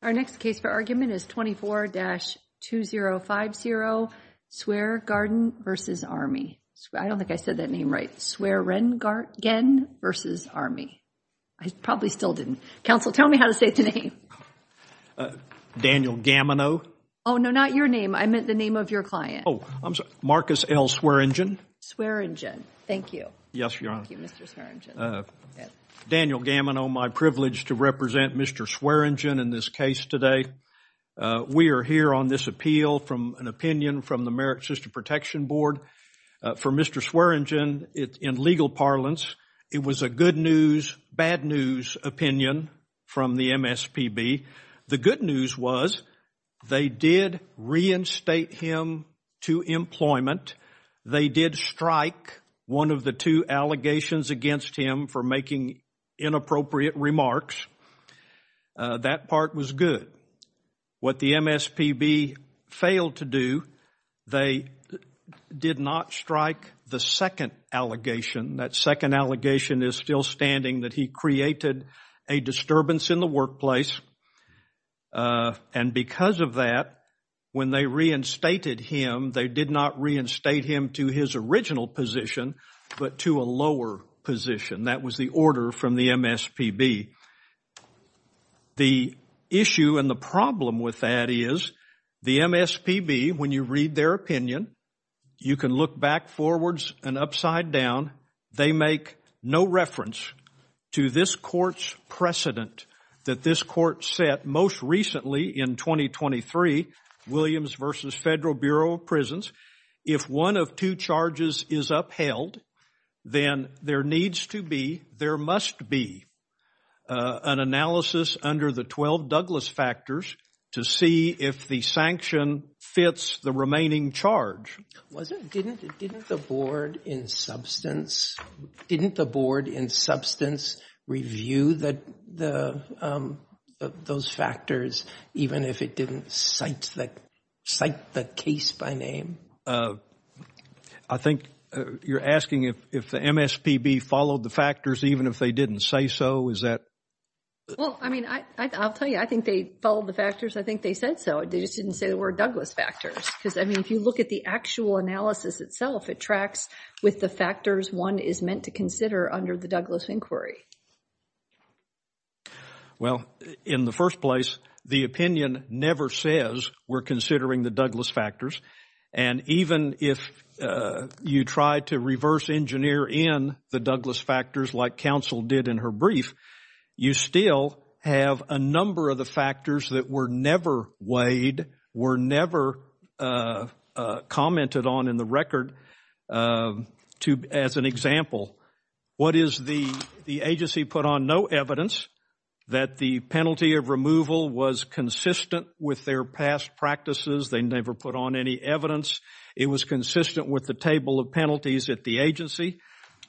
Our next case for argument is 24-2050 Swearengen v. Army. I don't think I said that name right. Swearengen v. Army. I probably still didn't. Counsel, tell me how to say the name. Daniel Gamino. Oh, no, not your name. I meant the name of your client. Oh, I'm sorry. Marcus L. Swearengen. Swearengen. Thank you. Yes, Your Honor. Thank you, Mr. Swearengen. Daniel Gamino, my privilege to represent Mr. Swearengen in this case today. We are here on this appeal from an opinion from the Merit System Protection Board. For Mr. Swearengen, in legal parlance, it was a good news, bad news opinion from the MSPB. The good news was they did reinstate him to employment. They did strike one of the two allegations against him for making inappropriate remarks. That part was good. What the MSPB failed to do, they did not strike the second allegation. That second allegation is still standing that he created a disturbance in the workplace. And because of that, when they reinstated him, they did not reinstate him to his original position, but to a lower position. That was the order from the MSPB. The issue and the problem with that is the MSPB, when you read their opinion, you can look back, forwards, and upside down. They make no reference to this court's precedent that this court set most recently in 2023, Williams v. Federal Bureau of Prisons. If one of two charges is upheld, then there needs to be, there must be, an analysis under the 12 Douglas factors to see if the sanction fits the remaining charge. Didn't the board in substance, didn't the board in substance review those factors, even if it didn't cite the case by name? I think you're asking if the MSPB followed the factors, even if they didn't say so, is that? Well, I mean, I'll tell you, I think they followed the factors. I think they said so. They just didn't say the word Douglas factors. Because, I mean, if you look at the actual analysis itself, it tracks with the factors one is meant to consider under the Douglas inquiry. Well, in the first place, the opinion never says we're considering the Douglas factors. And even if you try to reverse engineer in the Douglas factors like counsel did in her brief, you still have a number of the factors that were never weighed, were never commented on in the record. To, as an example, what is the agency put on? No evidence that the penalty of removal was consistent with their past practices. They never put on any evidence. It was consistent with the table of penalties at the agency.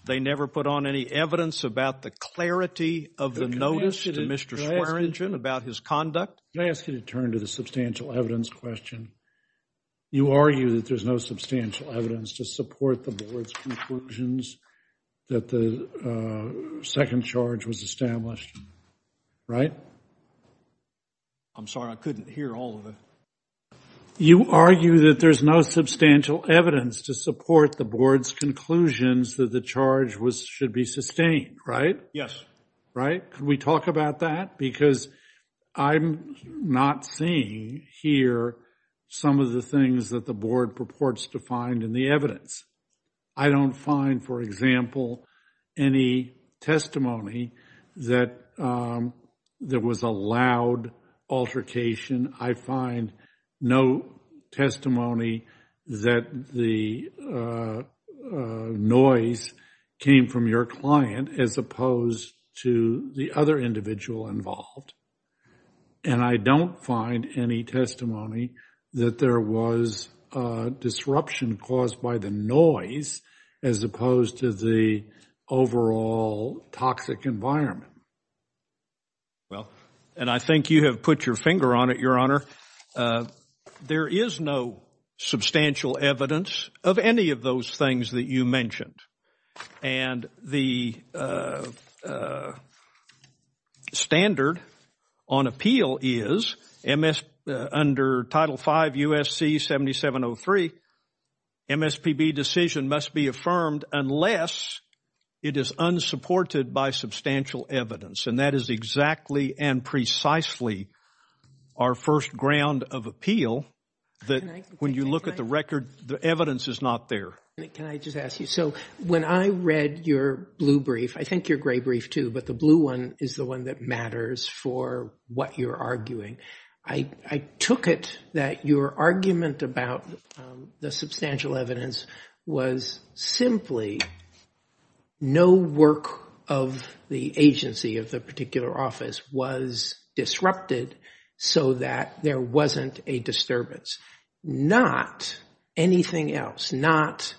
They never put on any evidence about the clarity of the notice to Mr. Swearengin about his conduct. Can I ask you to turn to the substantial evidence question? You argue that there's no substantial evidence to support the board's conclusions that the second charge was established, right? I'm sorry, I couldn't hear all of it. You argue that there's no substantial evidence to support the board's conclusions that the charge should be sustained, right? Yes. Right? Can we talk about that? Because I'm not seeing here some of the things that the board purports to find in the evidence. I don't find, for example, any testimony that there was a loud altercation. I find no testimony that the noise came from your client as opposed to the other individual involved. And I don't find any testimony that there was disruption caused by the noise as opposed to the overall toxic environment. Well, and I think you have put your finger on it, Your Honor. There is no substantial evidence of any of those things that you mentioned. And the standard on appeal is under Title 5 U.S.C. 7703, MSPB decision must be affirmed unless it is unsupported by substantial evidence. And that is exactly and precisely our first ground of appeal that when you look at the record, the evidence is not there. Can I just ask you? So when I read your blue brief, I think your gray brief too, but the blue one is the one that matters for what you're arguing. I took it that your argument about the substantial evidence was simply no work of the agency of the particular office was disrupted so that there wasn't a disturbance. Not anything else, not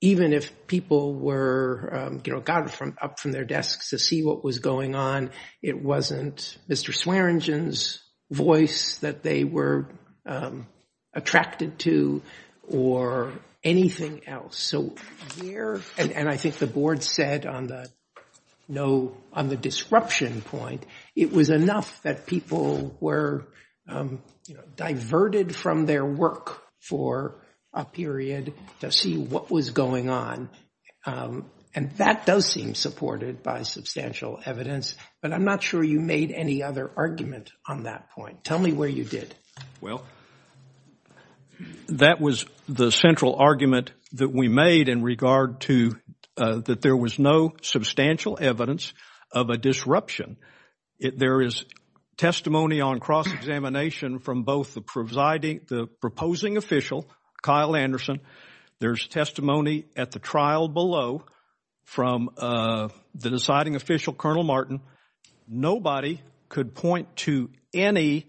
even if people were, you know, got up from their desks to see what was going on. It wasn't Mr. Swearengin's voice that they were attracted to or anything else. So there, and I think the board said on the disruption point, it was enough that people were, you know, diverted from their work for a period to see what was going on. And that does seem supported by substantial evidence. But I'm not sure you made any other argument on that point. Tell me where you did. Well, that was the central argument that we made in regard to that there was no substantial evidence of a disruption. There is testimony on cross-examination from both the proposing official, Kyle Anderson. There's testimony at the trial below from the deciding official, Colonel Martin. Nobody could point to any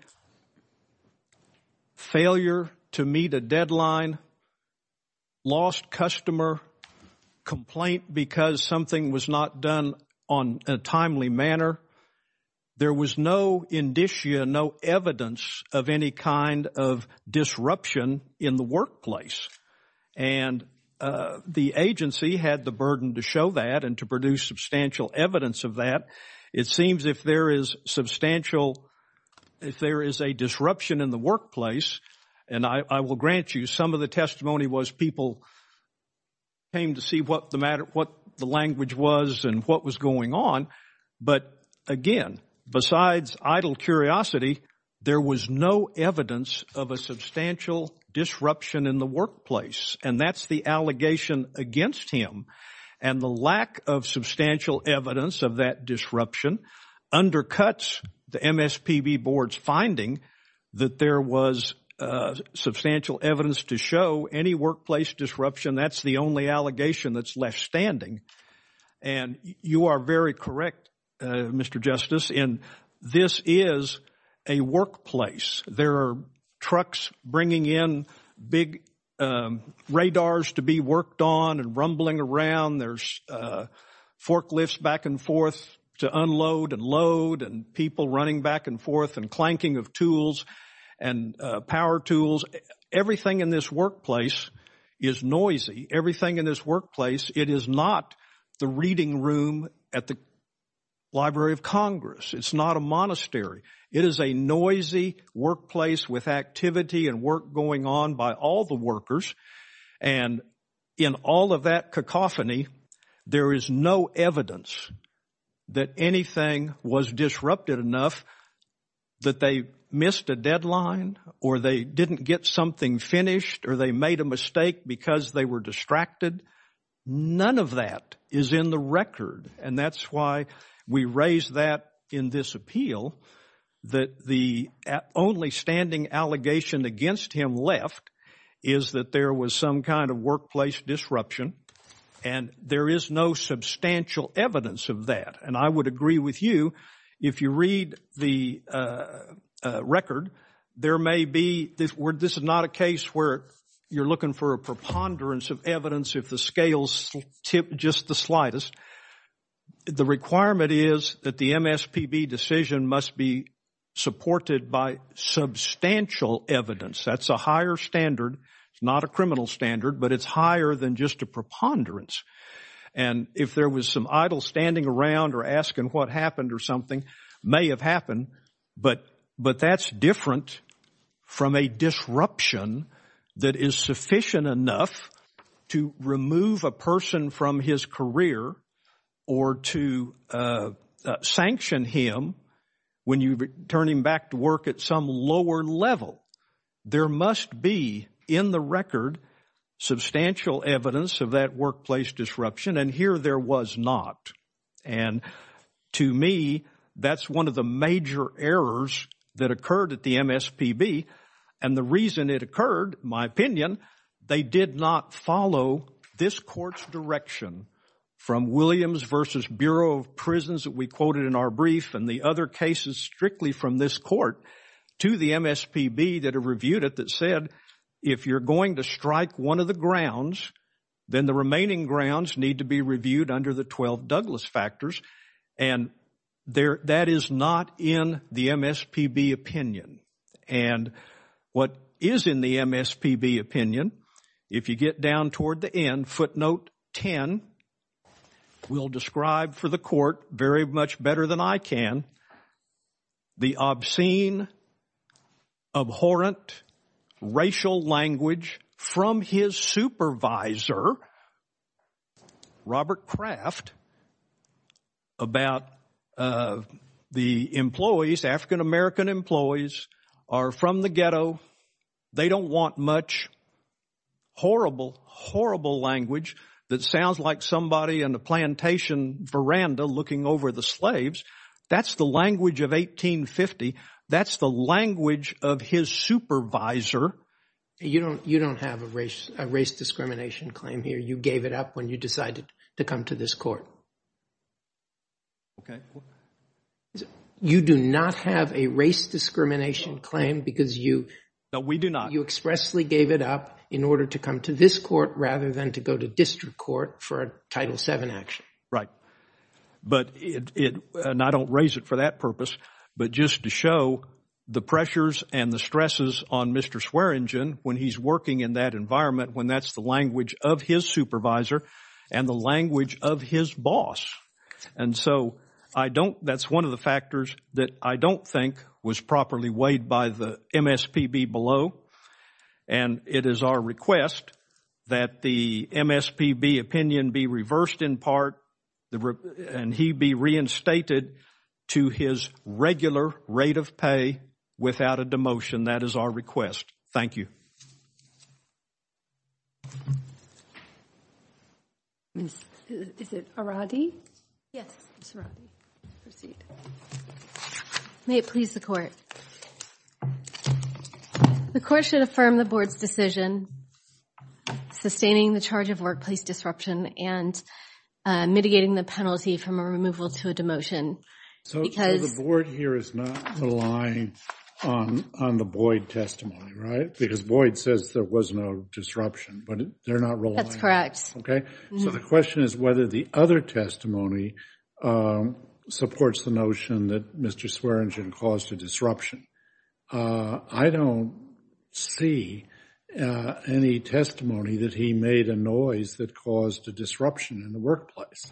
failure to meet a deadline, lost customer, complaint because something was not done on a timely manner. There was no indicia, no evidence of any kind of disruption in the workplace. And the agency had the burden to show that and to produce substantial evidence of that. It seems if there is substantial, if there is a disruption in the workplace, and I will grant you some of the testimony was people came to see what the matter, what the language was and what was going on. But again, besides idle curiosity, there was no evidence of a substantial disruption in the workplace. And that's the allegation against him. And the lack of substantial evidence of that disruption undercuts the MSPB board's finding that there was substantial evidence to show any workplace disruption. That's the only allegation that's left standing. And you are very correct, Mr. Justice, in this is a workplace. There are trucks bringing in big radars to be worked on and rumbling around. There's forklifts back and forth to unload and load and people running back and forth and clanking of tools and power tools. Everything in this workplace is noisy. Everything in this workplace, it is not the reading room at the Library of Congress. It's not a monastery. It is a noisy workplace with activity and work going on by all the And in all of that cacophony, there is no evidence that anything was disrupted enough that they missed a deadline or they didn't get something finished or they made a mistake because they were distracted. None of that is in the record. And that's why we raise that in this appeal that the only standing allegation against him left is that there was some kind of workplace disruption and there is no substantial evidence of that. And I would agree with you. If you read the record, there may be this word. This is not a case where you're looking for a preponderance of If the scales tip just the slightest, the requirement is that the MSPB decision must be supported by substantial evidence. That's a higher standard, not a criminal standard, but it's higher than just a preponderance. And if there was some idle standing around or asking what happened or something may have happened, but that's different from a disruption that is sufficient enough to remove a person from his career or to sanction him when you turn him back to work at some lower level. There must be in the record substantial evidence of that workplace disruption and here there was not. And to me, that's one of the major errors that occurred at the MSPB. And the reason it occurred, my opinion, they did not follow this court's direction from Williams versus Bureau of Prisons that we quoted in our brief and the other cases strictly from this court to the MSPB that have reviewed it that said, if you're going to strike one of the grounds, then the remaining grounds need to be reviewed under the 12 Douglas factors and that is not in the MSPB opinion. And what is in the MSPB opinion, if you get down toward the end footnote 10, we'll describe for the court very much better than I can, the obscene, abhorrent, racial language from his supervisor, Robert Kraft, about the employees, African-American employees are from the They don't want much horrible, horrible language that sounds like somebody in the plantation veranda looking over the slaves. That's the language of 1850. That's the language of his supervisor. You don't have a race discrimination claim here. You gave it up when you decided to come to this court. You do not have a race discrimination claim because you expressly gave it up in order to come to this court rather than to go to district court for a Title VII action. Right, but I don't raise it for that purpose, but just to show the pressures and the stresses on Mr. Swearengin when he's working in that environment, when that's the language of his supervisor and the language of his boss, and so I don't that's one of the factors that I don't think was properly weighed by the MSPB below and it is our request that the MSPB opinion be reversed in part and he be reinstated to his regular rate of pay without a demotion. That is our request. Thank you. Is it Aradi? Yes. May it please the court. The court should affirm the board's decision sustaining the charge of workplace disruption and mitigating the penalty from a removal to a So the board here is not relying on the Boyd testimony, right? Because Boyd says there was no disruption, but they're not relying on it. Okay, so the question is whether the other testimony supports the notion that Mr. Swearengin caused a disruption. I don't see any testimony that he made a noise that caused a disruption in the workplace.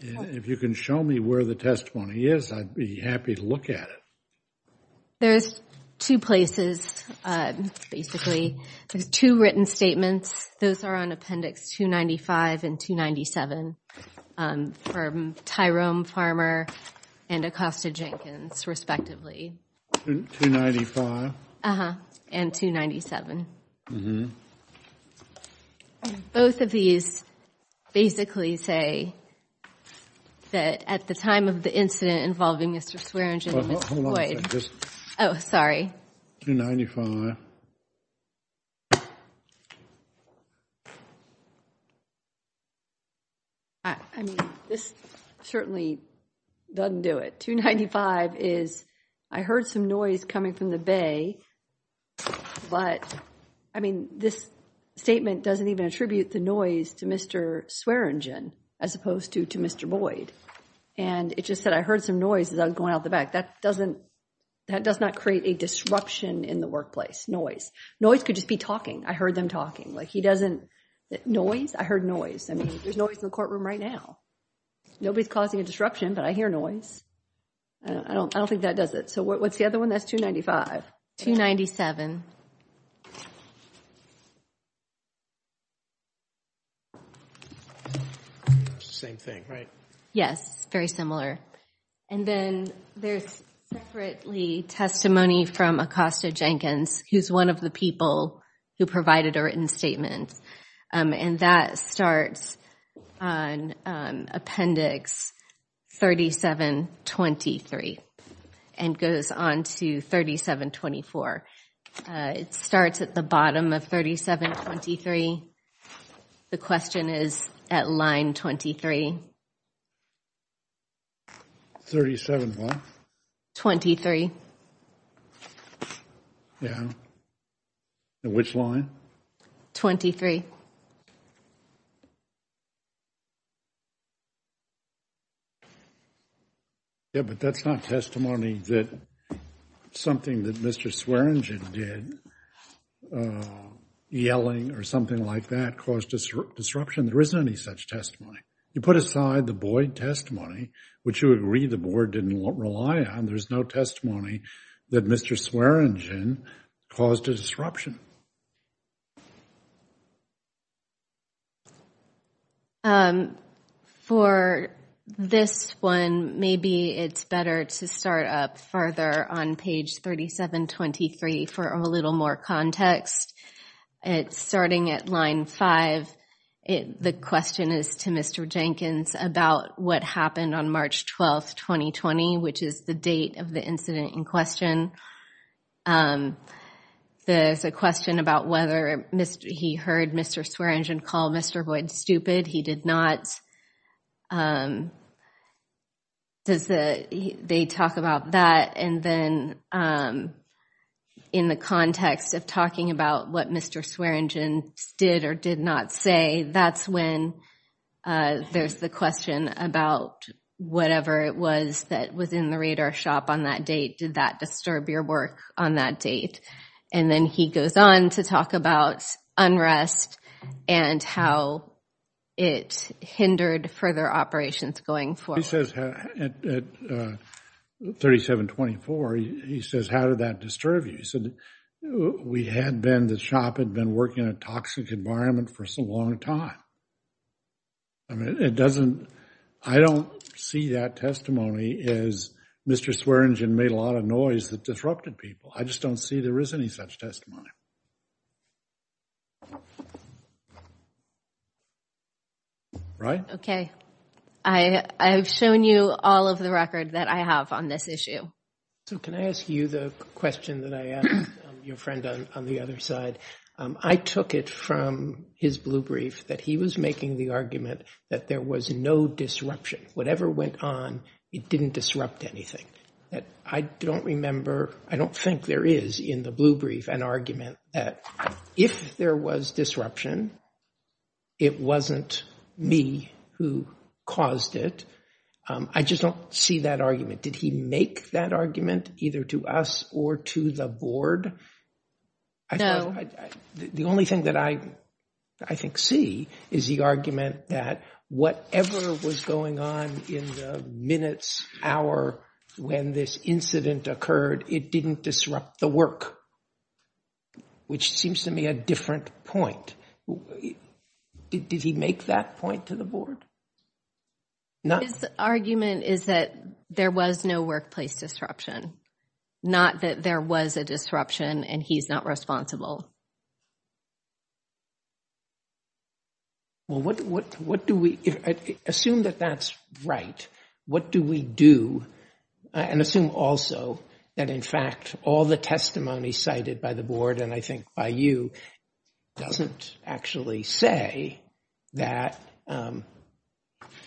If you can show me where the testimony is, I'd be happy to look at it. There's two places, basically, there's two written statements. Those are on appendix 295 and 297 from Tyrone Farmer and Acosta Jenkins respectively. 295 and 297. Both of these basically say that at the time of the incident involving Mr. Swearengin and Mr. Oh, sorry. 295. This certainly doesn't do it. 295 is, I heard some noise coming from the bay, but I mean this statement doesn't even attribute the noise to Mr. Swearengin as opposed to to Mr. Boyd. And it just said I heard some noise as I was going out the back. That doesn't, that does not create a disruption in the workplace, noise. Noise could just be talking. I heard them talking, like he doesn't, noise? I heard noise. I mean, there's noise in the courtroom right now. Nobody's causing a disruption, but I hear noise. I don't think that does it. So what's the other one? That's 295. 297. Same thing, right? Yes, very similar. And then there's separately testimony from Acosta Jenkins, who's one of the people who provided a written statement and that starts on appendix 3723 and goes on to 3724. It starts at the bottom of 3723. The question is at line 23. 37 what? 23. Yeah. Which line? 23. Yeah, but that's not testimony that something that Mr. Swearengin did, yelling or something like that caused disruption. There isn't any such testimony. You put aside the Boyd testimony, which you agree the board didn't rely on. There's no testimony that Mr. Swearengin caused a disruption. For this one, maybe it's better to start up further on page 3723 for a little more context. It's starting at line 5. The question is to Mr. Jenkins about what happened on March 12, 2020, which is the date of the incident in question. There's a question about whether he heard Mr. Swearengin call Mr. Boyd stupid. He did not. They talk about that and then in the context of talking about what Mr. Swearengin did or did not say, that's when there's the question about whatever it was that was in the radar shop on that date. Did that disturb your work on that date? And then he goes on to talk about unrest and how it hindered further operations going forward. He says at 3724, he says, how did that disturb you? He said, we had been, the shop had been working in a toxic environment for so long time. I mean, it doesn't, I don't see that testimony as Mr. Swearengin made a lot of noise that disrupted people. I just don't see there is any such testimony. Right? Okay. I've shown you all of the record that I have on this issue. So can I ask you the question that I asked your friend on the other side? I took it from his blue brief that he was making the argument that there was no disruption. Whatever went on, it didn't disrupt anything. I don't remember, I don't think there is in the blue brief an argument that if there was disruption, it wasn't me who caused it. I just don't see that argument. Did he make that argument either to us or to the board? No. The only thing that I think see is the argument that whatever was going on in the minutes, hour, when this incident occurred, it didn't disrupt the work. Which seems to me a different point. Did he make that point to the board? His argument is that there was no workplace disruption, not that there was a disruption and he's not responsible. What do we assume that that's right? What do we do and assume also that in fact all the testimony cited by the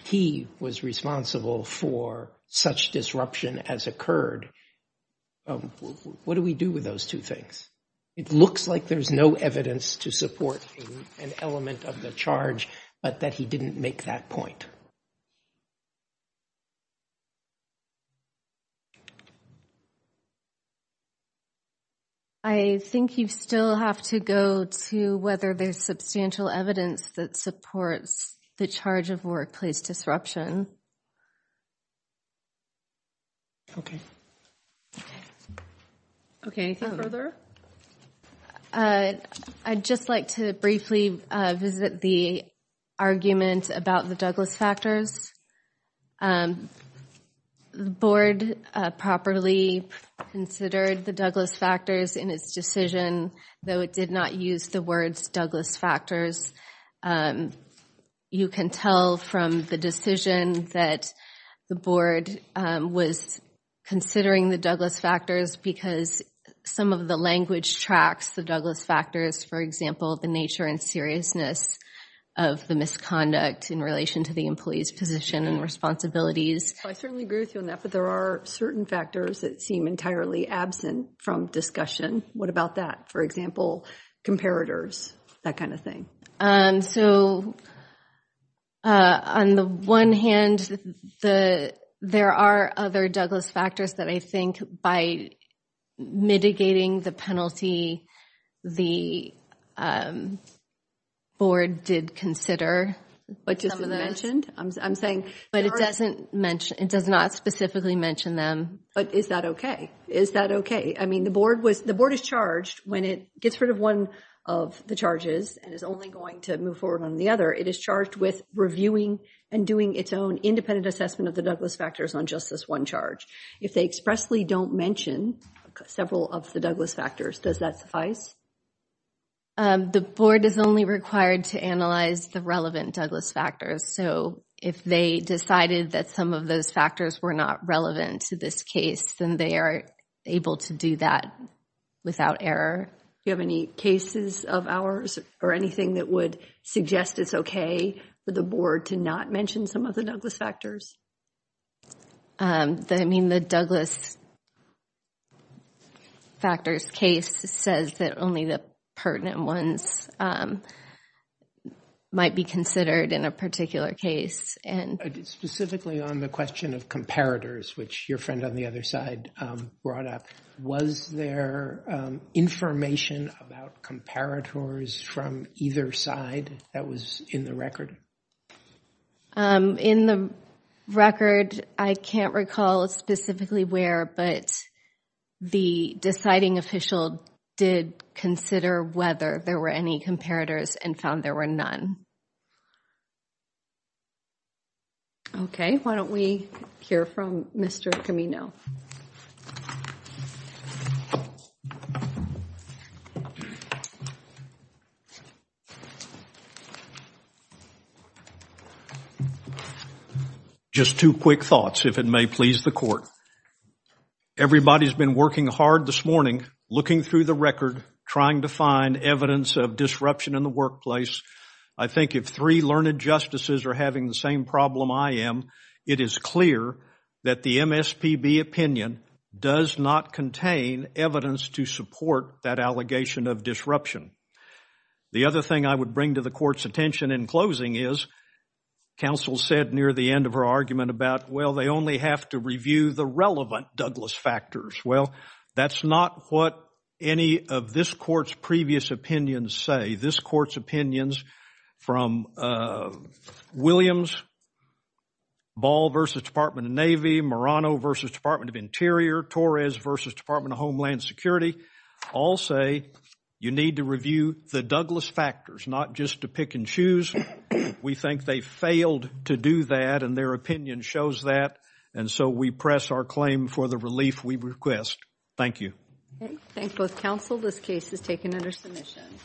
he was responsible for such disruption as occurred. What do we do with those two things? It looks like there's no evidence to support an element of the charge, but that he didn't make that point. I think you still have to go to whether there's substantial evidence that supports the charge of workplace disruption. Okay. Okay, anything further? I'd just like to briefly visit the argument about the Douglas factors. The board properly considered the Douglas factors in its decision, though it did not use the words Douglas factors. You can tell from the decision that the board was considering the Douglas factors because some of the language tracks the Douglas factors, for example, the nature and seriousness of the misconduct in relation to the employee's position and responsibilities. I certainly agree with you on that, but there are certain factors that seem entirely absent from discussion. What about that? For example, comparators, that kind of thing. So, on the one hand, there are other Douglas factors that I think by mitigating the penalty, the board did consider. But just mentioned, I'm saying, but it doesn't mention, it does not specifically mention them. But is that okay? Is that okay? I mean, the board was, the board is charged when it gets rid of one of the charges and is only going to move forward on the other. It is charged with reviewing and doing its own independent assessment of the Douglas factors on just this one charge. If they expressly don't mention several of the Douglas factors, does that suffice? The board is only required to analyze the relevant Douglas factors. So, if they decided that some of those factors were not relevant to this case, then they are able to do that without error. Do you have any cases of ours or anything that would suggest it's okay for the board to not mention some of the Douglas factors? I mean, the Douglas factors case says that only the pertinent ones might be considered in a particular case. Specifically on the question of comparators, which your friend on the In the record, I can't recall specifically where, but the deciding official did consider whether there were any comparators and found there were none. Okay, why don't we hear from Mr. Camino? Just two quick thoughts, if it may please the court. Everybody's been working hard this morning, looking through the record, trying to find evidence of disruption in the workplace. I think if three learned justices are having the same problem I am, it is clear that the MSPB opinion does not contain evidence to support that allegation of disruption. The other thing I would bring to the court's attention in closing is, counsel said near the end of her argument about, well, they only have to review the relevant Douglas factors. Well, that's not what any of this court's previous opinions say. This court's opinions from Williams, Ball versus Department of Navy, Marano versus Department of Interior, Torres versus Department of Homeland Security, all say you need to review the Douglas factors, not just to pick and choose. We think they failed to do that and their opinion shows that, and so we press our claim for the relief we request. Thank you. Thank both counsel. This case is taken under submission.